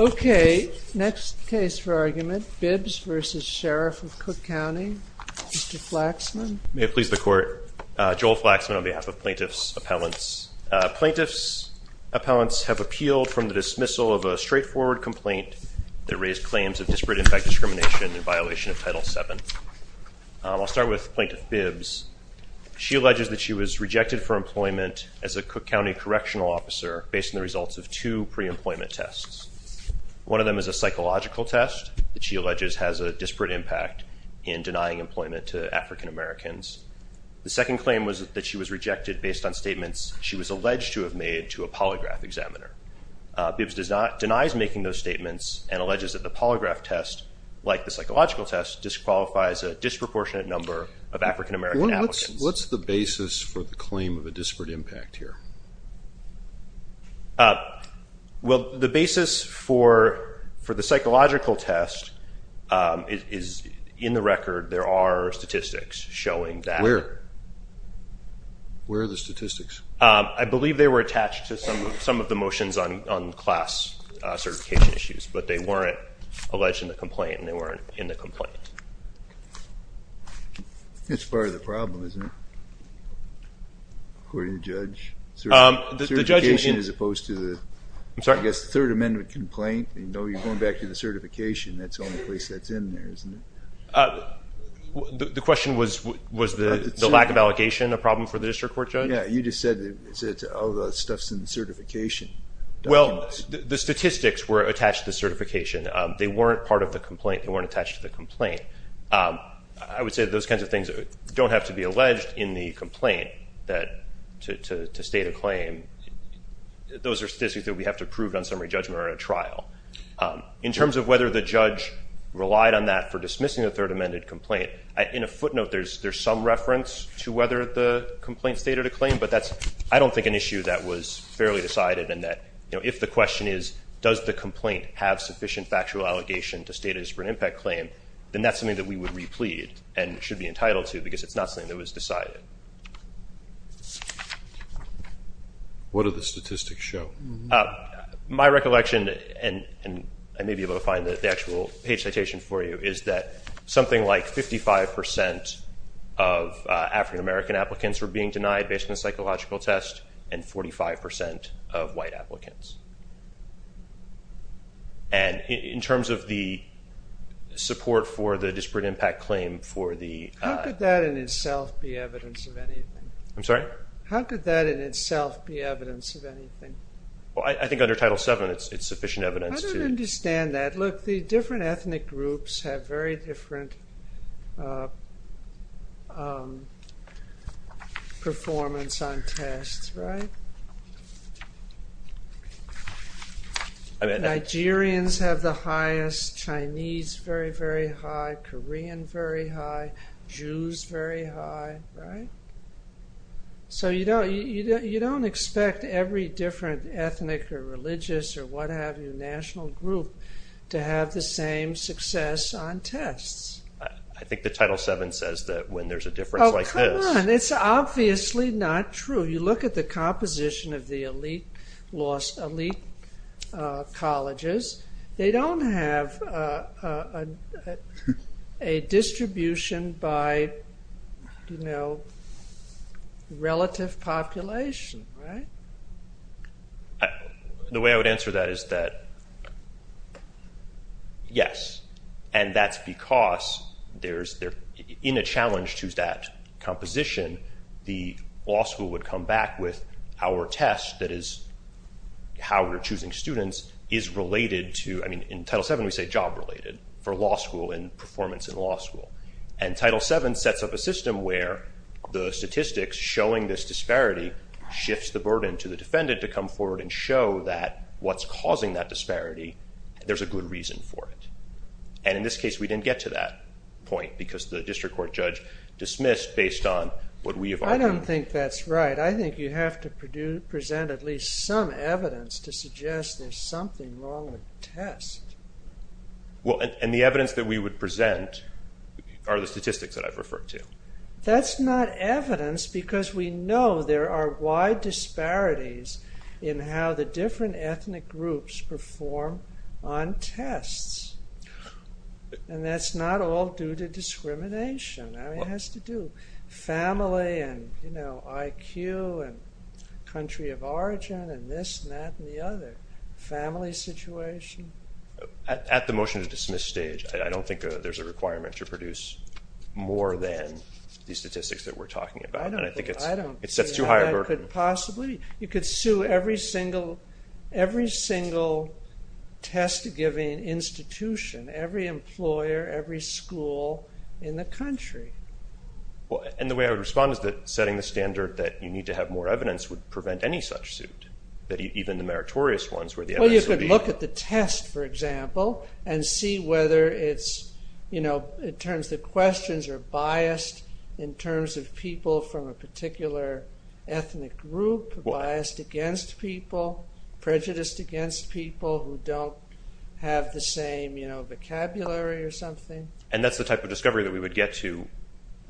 Okay, next case for argument, Bibbs v. Sheriff of Cook County. Mr. Flaxman. May it please the Court. Joel Flaxman on behalf of Plaintiff's Appellants. Plaintiff's Appellants have appealed from the dismissal of a straightforward complaint that raised claims of disparate impact discrimination in violation of Title VII. I'll start with Plaintiff Bibbs. She alleges that she was rejected for employment as a Cook County Correctional Officer based on the results of two pre-employment tests. One of them is a psychological test that she alleges has a disparate impact in denying employment to African Americans. The second claim was that she was rejected based on statements she was alleged to have made to a polygraph examiner. Bibbs denies making those statements and alleges that the polygraph test, like the psychological test, disqualifies a disproportionate number of African American applicants. What's the basis for the claim of a disparate impact here? Well, the basis for the psychological test is in the record. There are statistics showing that. Where? Where are the statistics? I believe they were attached to some of the motions on class certification issues, but they weren't alleged in the complaint and they weren't in the complaint. That's part of the problem, isn't it, according to the judge? Certification as opposed to the, I guess, third amendment complaint. You know, you're going back to the certification. That's the only place that's in there, isn't it? The question was, was the lack of allegation a problem for the district court judge? Yeah, you just said it's all the stuff's in the certification documents. Well, the statistics were attached to the certification. They weren't part of the complaint. They weren't attached to the complaint. I would say those kinds of things don't have to be alleged in the complaint to state a claim. Those are statistics that we have to prove on summary judgment or a trial. In terms of whether the judge relied on that for dismissing the third amended complaint, in a footnote, there's some reference to whether the complaint stated a claim, but that's, I don't think, an issue that was fairly decided. If the question is, does the complaint have sufficient factual allegation to state it as for an impact claim, then that's something that we would replete and should be entitled to, because it's not something that was decided. What do the statistics show? My recollection, and I may be able to find the actual page citation for you, is that something like 55% of African-American applicants were being denied based on the psychological test, and 45% of white applicants. And in terms of the support for the disparate impact claim for the... How could that in itself be evidence of anything? I'm sorry? How could that in itself be evidence of anything? Well, I think under Title VII, it's sufficient evidence to... I don't understand that. Look, the different ethnic groups have very different performance on tests. Nigerians have the highest, Chinese very, very high, Korean very high, Jews very high, right? So you don't expect every different ethnic or religious or what have you national group to have the same success on tests. I think the Title VII says that when there's a difference like this... Oh, come on, it's obviously not true. So you look at the composition of the elite, lost elite colleges, they don't have a distribution by, you know, relative population, right? The way I would answer that is that, yes. And that's because there's... In a challenge to that composition, the law school would come back with our test that is how we're choosing students is related to... I mean, in Title VII, we say job related for law school and performance in law school. And Title VII sets up a system where the statistics showing this disparity shifts the burden to the defendant to come forward and show that what's causing that disparity, there's a good reason for it. And in this case, we didn't get to that point because the district court judge dismissed based on what we have argued. I don't think that's right. I think you have to present at least some evidence to suggest there's something wrong with the test. Well, and the evidence that we would present are the statistics that I've referred to. That's not evidence because we know there are wide disparities in how the different ethnic groups perform on tests. And that's not all due to discrimination. I mean, it has to do family and, you know, IQ and country of origin and this and that and the other. Family situation. At the motion to dismiss stage, I don't think there's a requirement to produce more than the statistics that we're talking about. And I think it sets too high a burden. You could sue every single test giving institution, every employer, every school in the country. And the way I would respond is that setting the standard that you need to have more evidence would prevent any such suit. Even the meritorious ones where the evidence would be... Well, you could look at the test, for example, and see whether it's, you know, in terms of questions are biased in terms of people from a particular ethnic group, biased against people, prejudiced against people who don't have the same, you know, vocabulary or something. And that's the type of discovery that we would get to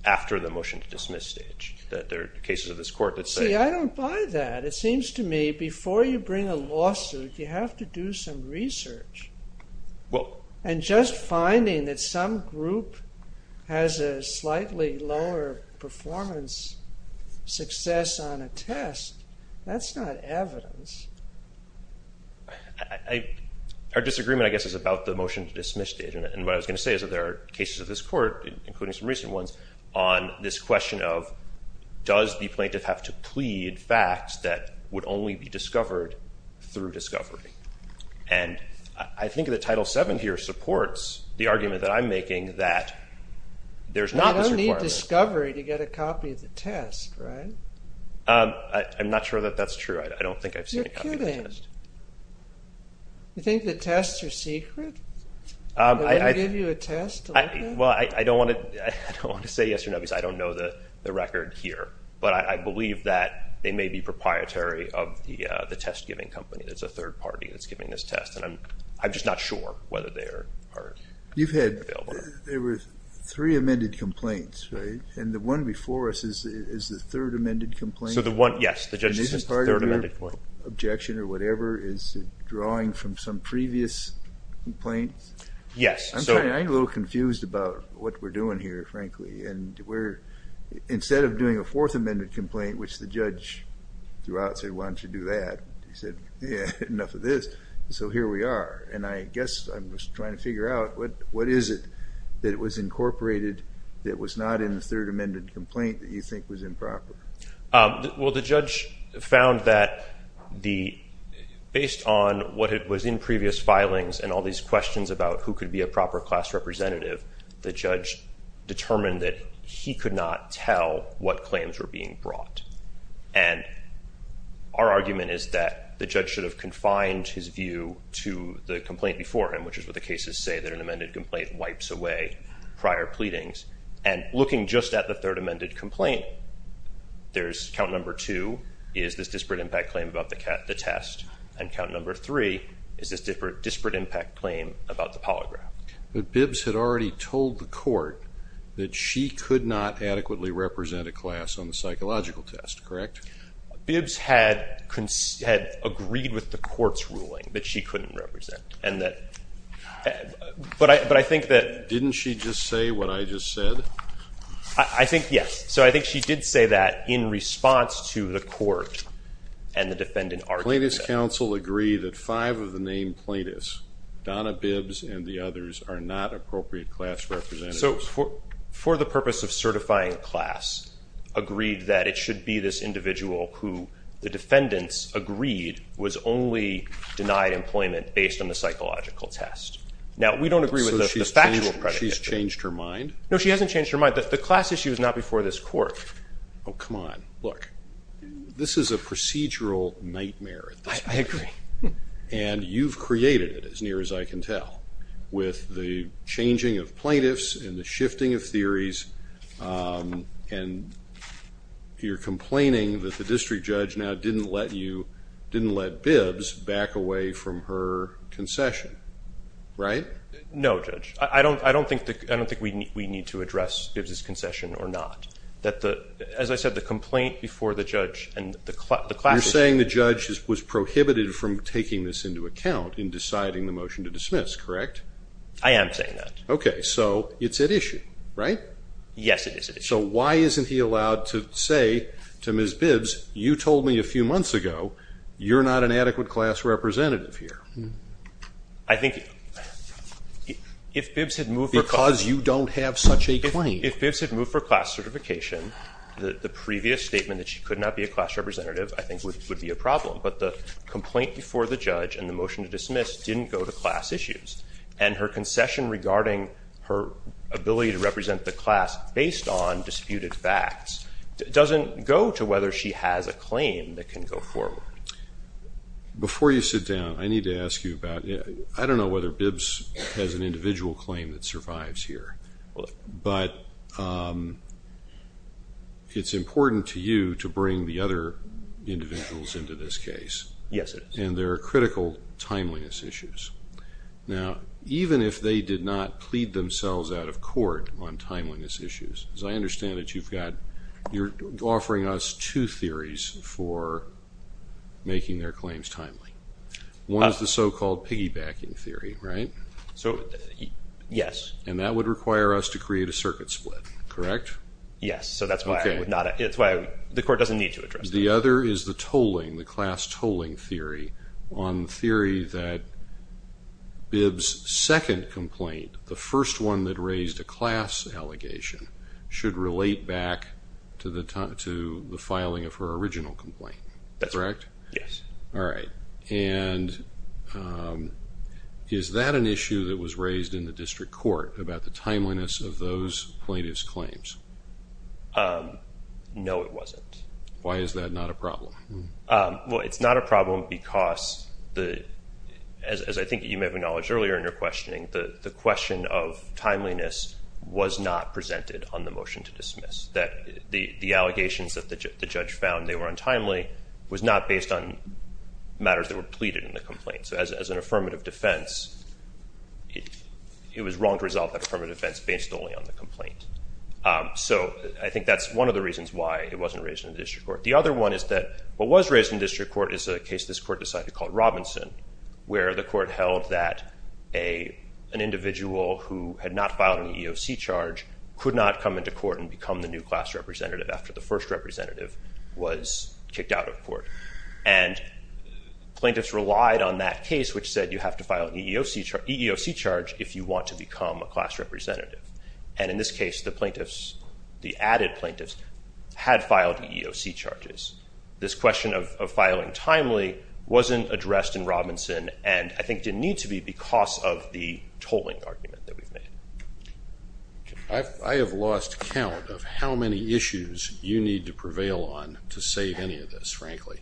after the motion to dismiss stage. That there are cases of this court that say... See, I don't buy that. It seems to me before you bring a lawsuit, you have to do some research. And just finding that some group has a slightly lower performance success on a test, that's not evidence. Our disagreement, I guess, is about the motion to dismiss stage. And what I was going to say is that there are cases of this court, including some recent ones, on this question of does the plaintiff have to plead facts that would only be discovered through discovery? And I think that Title VII here supports the argument that I'm making that there's not this requirement. You don't need discovery to get a copy of the test, right? I'm not sure that that's true. I don't think I've seen a copy of the test. You're kidding. You think the tests are secret? They wouldn't give you a test to look at? Well, I don't want to say yes or no because I don't know the record here. But I believe that they may be proprietary of the test-giving company that's a third party that's giving this test. And I'm just not sure whether they are available. You've had three amended complaints, right? And the one before us is the third amended complaint? So the one, yes. And isn't part of your objection or whatever is drawing from some previous complaints? Yes. I'm a little confused about what we're doing here, frankly. Instead of doing a fourth amended complaint, which the judge threw out and said, why don't you do that? He said, yeah, enough of this. So here we are. And I guess I'm just trying to figure out what is it that was incorporated that was not in the third amended complaint that you think was improper? Well, the judge found that based on what was in previous filings and all these questions about who could be a proper class representative, the judge determined that he could not tell what claims were being brought. And our argument is that the judge should have confined his view to the complaint before him, which is what the cases say, that an amended complaint wipes away prior pleadings. And looking just at the third amended complaint, there's count number two is this disparate impact claim about the test. And count number three is this disparate impact claim about the polygraph. But Bibbs had already told the court that she could not adequately represent a class on the psychological test, correct? Bibbs had agreed with the court's ruling that she couldn't represent. But I think that- Didn't she just say what I just said? I think, yes. So I think she did say that in response to the court and the defendant arguing that. Plaintiff's counsel agreed that five of the named plaintiffs, Donna Bibbs and the others, are not appropriate class representatives. So for the purpose of certifying a class, agreed that it should be this individual who the defendants agreed was only denied employment based on the psychological test. Now, we don't agree with the factual predicate. So she's changed her mind? No, she hasn't changed her mind. The class issue is not before this court. Oh, come on. Look, this is a procedural nightmare at this point. I agree. And you've created it, as near as I can tell, with the changing of plaintiffs and the shifting of theories. And you're complaining that the district judge now didn't let Bibbs back away from her concession, right? No, Judge. I don't think we need to address Bibbs' concession or not. As I said, the complaint before the judge and the class issue. You're saying the judge was prohibited from taking this into account in deciding the motion to dismiss, correct? I am saying that. Okay. So it's at issue, right? Yes, it is at issue. So why isn't he allowed to say to Ms. Bibbs, you told me a few months ago you're not an adequate class representative here? I think if Bibbs had moved for class certification. Because you don't have such a claim. If Bibbs had moved for class certification, the previous statement that she could not be a class representative I think would be a problem. But the complaint before the judge and the motion to dismiss didn't go to class issues. And her concession regarding her ability to represent the class based on disputed facts doesn't go to whether she has a claim that can go forward. Before you sit down, I need to ask you about, I don't know whether Bibbs has an individual claim that survives here. But it's important to you to bring the other individuals into this case. Yes, it is. And there are critical timeliness issues. Now, even if they did not plead themselves out of court on timeliness issues, as I understand it, you're offering us two theories for making their claims timely. One is the so-called piggybacking theory, right? Yes. And that would require us to create a circuit split, correct? Yes. Okay. So that's why the court doesn't need to address that. The other is the tolling, the class tolling theory on the theory that Bibbs' second complaint, the first one that raised a class allegation, should relate back to the filing of her original complaint, correct? Yes. All right. And is that an issue that was raised in the district court about the timeliness of those plaintiffs' claims? No, it wasn't. Why is that not a problem? Well, it's not a problem because, as I think you may have acknowledged earlier in your questioning, the question of timeliness was not presented on the motion to dismiss. The allegations that the judge found they were untimely was not based on matters that were pleaded in the complaint. So as an affirmative defense, it was wrong to resolve that affirmative defense based only on the complaint. So I think that's one of the reasons why it wasn't raised in the district court. The other one is that what was raised in the district court is a case this court decided to call Robinson, where the court held that an individual who had not filed an EEOC charge could not come into court and become the new class representative after the first representative was kicked out of court. And plaintiffs relied on that case, which said you have to file an EEOC charge if you want to become a class representative. And in this case, the plaintiffs, the added plaintiffs, had filed EEOC charges. This question of filing timely wasn't addressed in Robinson and I think didn't need to be because of the tolling argument that we've made. I have lost count of how many issues you need to prevail on to save any of this, frankly.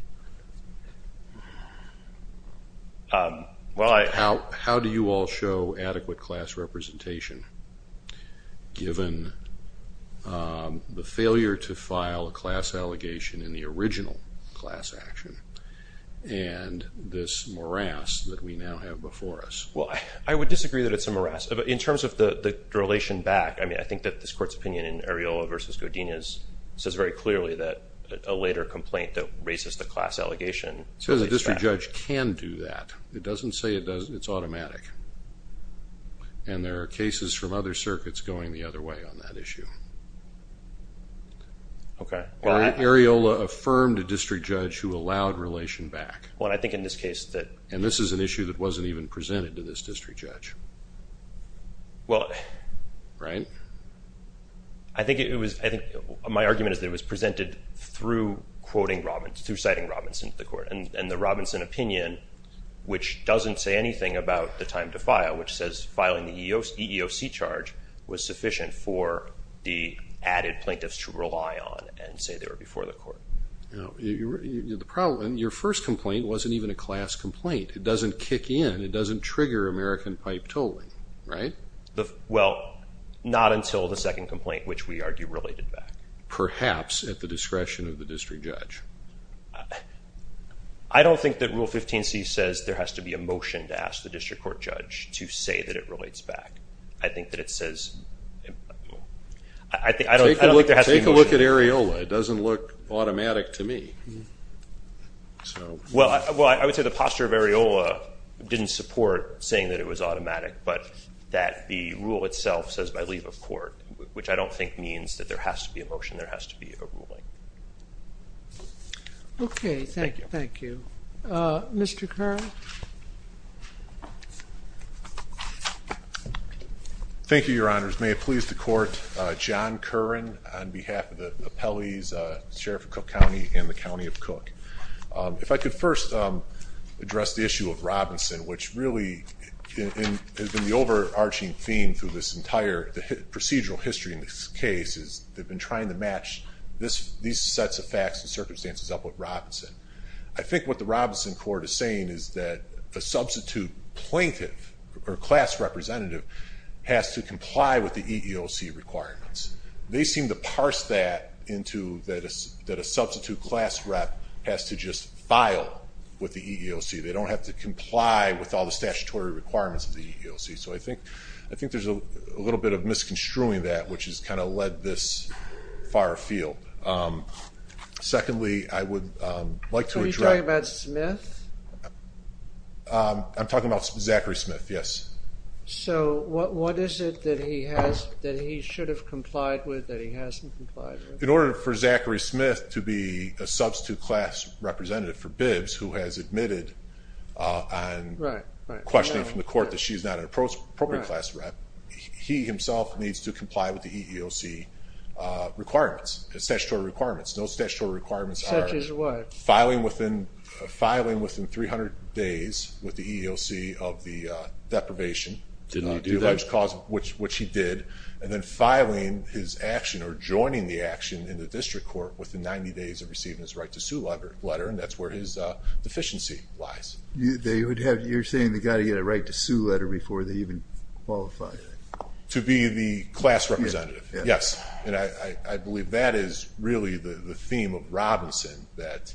How do you all show adequate class representation given the failure to file a class allegation in the original class action and this morass that we now have before us? Well, I would disagree that it's a morass. In terms of the relation back, I think that this court's opinion in Areola v. Godinez says very clearly that a later complaint that raises the class allegation. It says a district judge can do that. It doesn't say it's automatic. And there are cases from other circuits going the other way on that issue. Areola affirmed a district judge who allowed relation back. And this is an issue that wasn't even presented to this district judge. Right? I think my argument is that it was presented through citing Robinson to the court. And the Robinson opinion, which doesn't say anything about the time to file, which says filing the EEOC charge was sufficient for the added plaintiffs to rely on and say they were before the court. Your first complaint wasn't even a class complaint. It doesn't kick in. It doesn't trigger American pipe tolling, right? Well, not until the second complaint, which we argue related back. Perhaps at the discretion of the district judge. I don't think that Rule 15c says there has to be a motion to ask the district court judge to say that it relates back. I think that it says, I don't think there has to be a motion. Take a look at Areola. It doesn't look automatic to me. Well, I would say the posture of Areola didn't support saying that it was automatic, but that the rule itself says by leave of court, which I don't think means that there has to be a motion. There has to be a ruling. Okay. Thank you. Thank you. Mr. Curran? Thank you, Your Honors. May it please the court, John Curran on behalf of the appellees, Sheriff of Cook County and the County of Cook. If I could first address the issue of Robinson, which really has been the overarching theme through this entire procedural history in this case. They've been trying to match these sets of facts and circumstances up with Robinson. I think what the Robinson court is saying is that a substitute plaintiff or class representative has to comply with the EEOC requirements. They seem to parse that into that a substitute class rep has to just file with the EEOC. They don't have to comply with all the statutory requirements of the EEOC. So I think there's a little bit of misconstruing that, which has kind of led this far afield. Secondly, I would like to address- Are you talking about Smith? I'm talking about Zachary Smith, yes. So what is it that he should have complied with that he hasn't complied with? In order for Zachary Smith to be a substitute class representative for Bibbs, who has admitted on questioning from the court that she's not an appropriate class rep, he himself needs to comply with the EEOC requirements, statutory requirements. Those statutory requirements are- Such as what? Filing within 300 days with the EEOC of the deprivation- Didn't he do that? Which he did, and then filing his action or joining the action in the district court within 90 days of receiving his right to sue letter, and that's where his deficiency lies. You're saying they've got to get a right to sue letter before they even qualify? To be the class representative, yes. I believe that is really the theme of Robinson that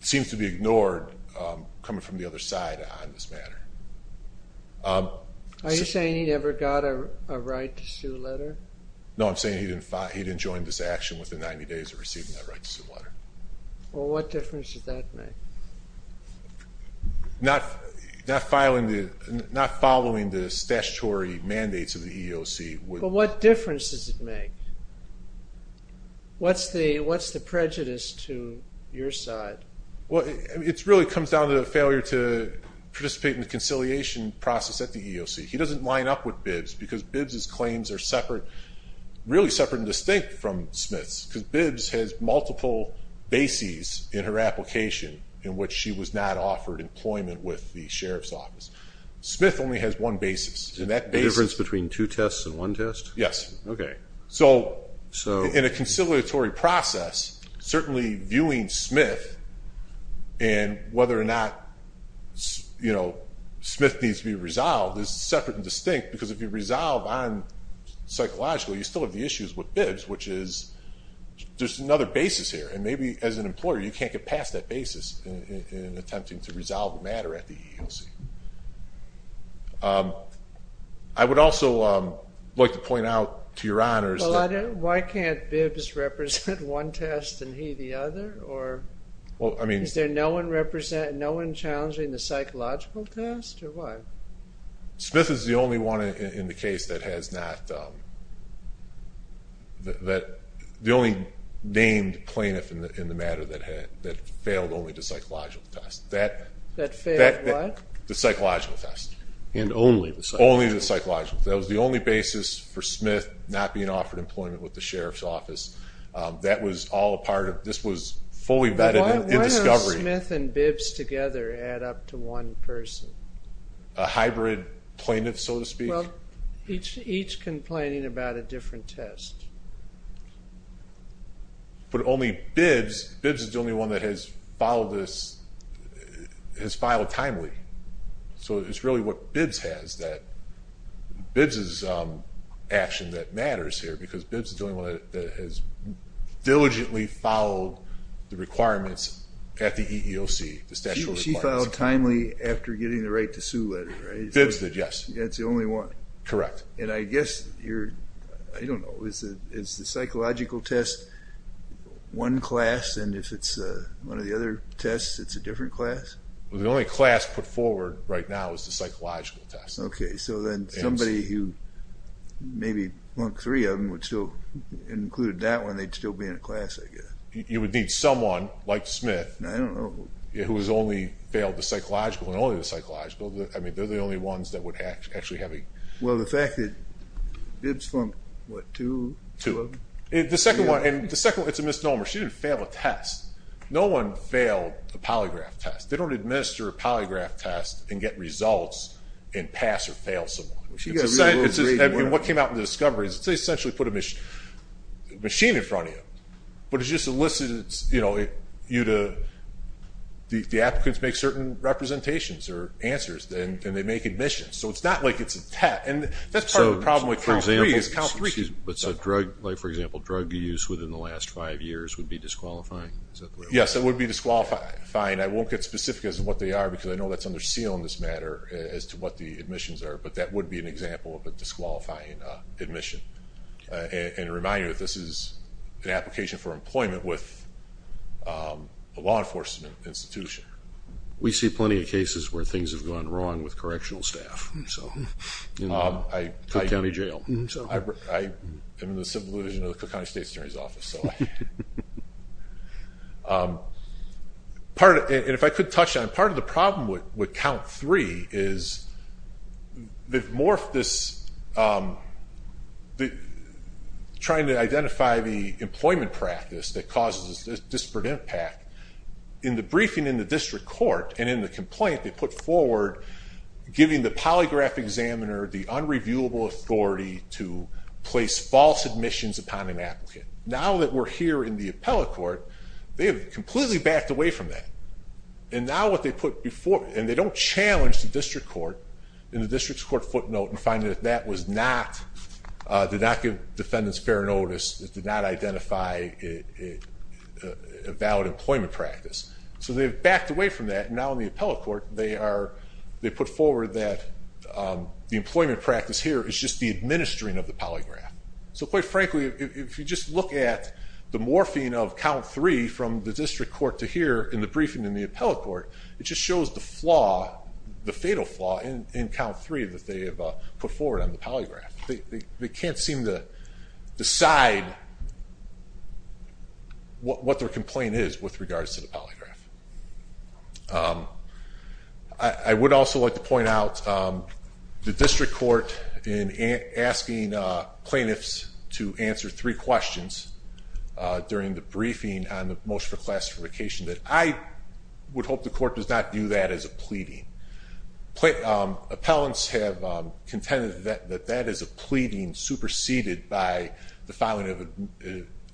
seems to be ignored coming from the other side on this matter. Are you saying he never got a right to sue letter? No, I'm saying he didn't join this action within 90 days of receiving that right to sue letter. Well, what difference does that make? Not following the statutory mandates of the EEOC- But what difference does it make? What's the prejudice to your side? Well, it really comes down to the failure to participate in the conciliation process at the EEOC. He doesn't line up with Bibbs because Bibbs' claims are separate, really separate and distinct from Smith's, because Bibbs has multiple bases in her application in which she was not offered employment with the sheriff's office. Smith only has one basis, and that basis- The difference between two tests and one test? Yes. Okay. So in a conciliatory process, certainly viewing Smith and whether or not Smith needs to be resolved is separate and distinct because if you resolve on psychologically, you still have the issues with Bibbs, which is just another basis here. And maybe as an employer, you can't get past that basis in attempting to resolve the matter at the EEOC. I would also like to point out to your honors- Well, why can't Bibbs represent one test and he the other? Is there no one challenging the psychological test, or what? Smith is the only one in the case that has not- the only named plaintiff in the matter that failed only the psychological test. That failed what? The psychological test. And only the psychological test. Only the psychological. That was the only basis for Smith not being offered employment with the sheriff's office. That was all a part of-this was fully vetted in discovery. Why didn't Smith and Bibbs together add up to one person? A hybrid plaintiff, so to speak? Well, each complaining about a different test. But only Bibbs-Bibbs is the only one that has filed this-has filed timely. So it's really what Bibbs has that-Bibbs's action that matters here because Bibbs is the only one that has diligently followed the requirements at the EEOC, the statute of requirements. She filed timely after getting the right to sue letter, right? Bibbs did, yes. That's the only one? Correct. And I guess you're-I don't know. Is the psychological test one class, and if it's one of the other tests, it's a different class? The only class put forward right now is the psychological test. Okay, so then somebody who maybe flunked three of them would still-included that one, they'd still be in a class, I guess. You would need someone like Smith- I don't know. Who has only failed the psychological and only the psychological. I mean, they're the only ones that would actually have a- Well, the fact that Bibbs flunked, what, two? Two. The second one-and the second one, it's a misnomer. She didn't fail a test. No one failed a polygraph test. They don't administer a polygraph test and get results and pass or fail someone. What came out in the discovery is they essentially put a machine in front of you, but it just elicits you to-the applicants make certain representations or answers, and they make admissions. So it's not like it's a test. And that's part of the problem with COUNT III is COUNT III- But so drug-like, for example, drug use within the last five years would be disqualifying? Yes, it would be disqualifying. Fine. I won't get specific as to what they are because I know that's under seal in this matter as to what the admissions are, but that would be an example of a disqualifying admission. And a reminder that this is an application for employment with a law enforcement institution. We see plenty of cases where things have gone wrong with correctional staff, so, you know, Cook County Jail. I am in the Civil Division of the Cook County State's Attorney's Office, so-and if I could touch on it, part of the problem with COUNT III is they've morphed this-trying to identify the employment practice that causes this disparate impact. In the briefing in the district court and in the complaint, they put forward giving the polygraph examiner the unreviewable authority to place false admissions upon an applicant. Now that we're here in the appellate court, they have completely backed away from that. And now what they put before-and they don't challenge the district court in the district court footnote and find that that was not-did not give defendants fair notice, did not identify a valid employment practice. So they've backed away from that. Now in the appellate court they put forward that the employment practice here is just the administering of the polygraph. So quite frankly, if you just look at the morphing of COUNT III from the district court to here in the briefing in the appellate court, it just shows the flaw, the fatal flaw in COUNT III that they have put forward on the polygraph. They can't seem to decide what their complaint is with regards to the polygraph. I would also like to point out the district court in asking plaintiffs to answer three questions during the briefing on the motion for classification that I would hope the court does not view that as a pleading. Appellants have contended that that is a pleading superseded by the filing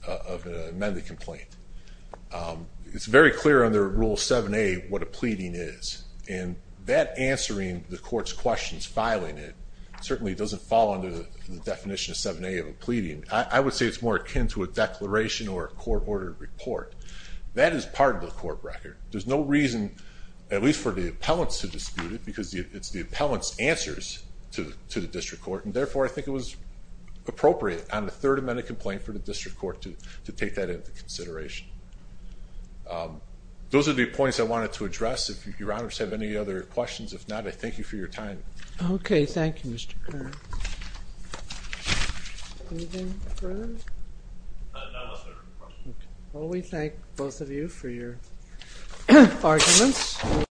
of an amended complaint. It's very clear under Rule 7a what a pleading is. And that answering the court's questions, filing it, certainly doesn't fall under the definition of 7a of a pleading. I would say it's more akin to a declaration or a court-ordered report. That is part of the court record. There's no reason, at least for the appellants to dispute it, because it's the appellant's answers to the district court, and therefore I think it was appropriate on the Third Amendment complaint for the district court to take that into consideration. Those are the points I wanted to address. If Your Honors have any other questions, if not, I thank you for your time. Thank you, Mr. Curran. Anything further? No. No further questions. Well, we thank both of you for your arguments.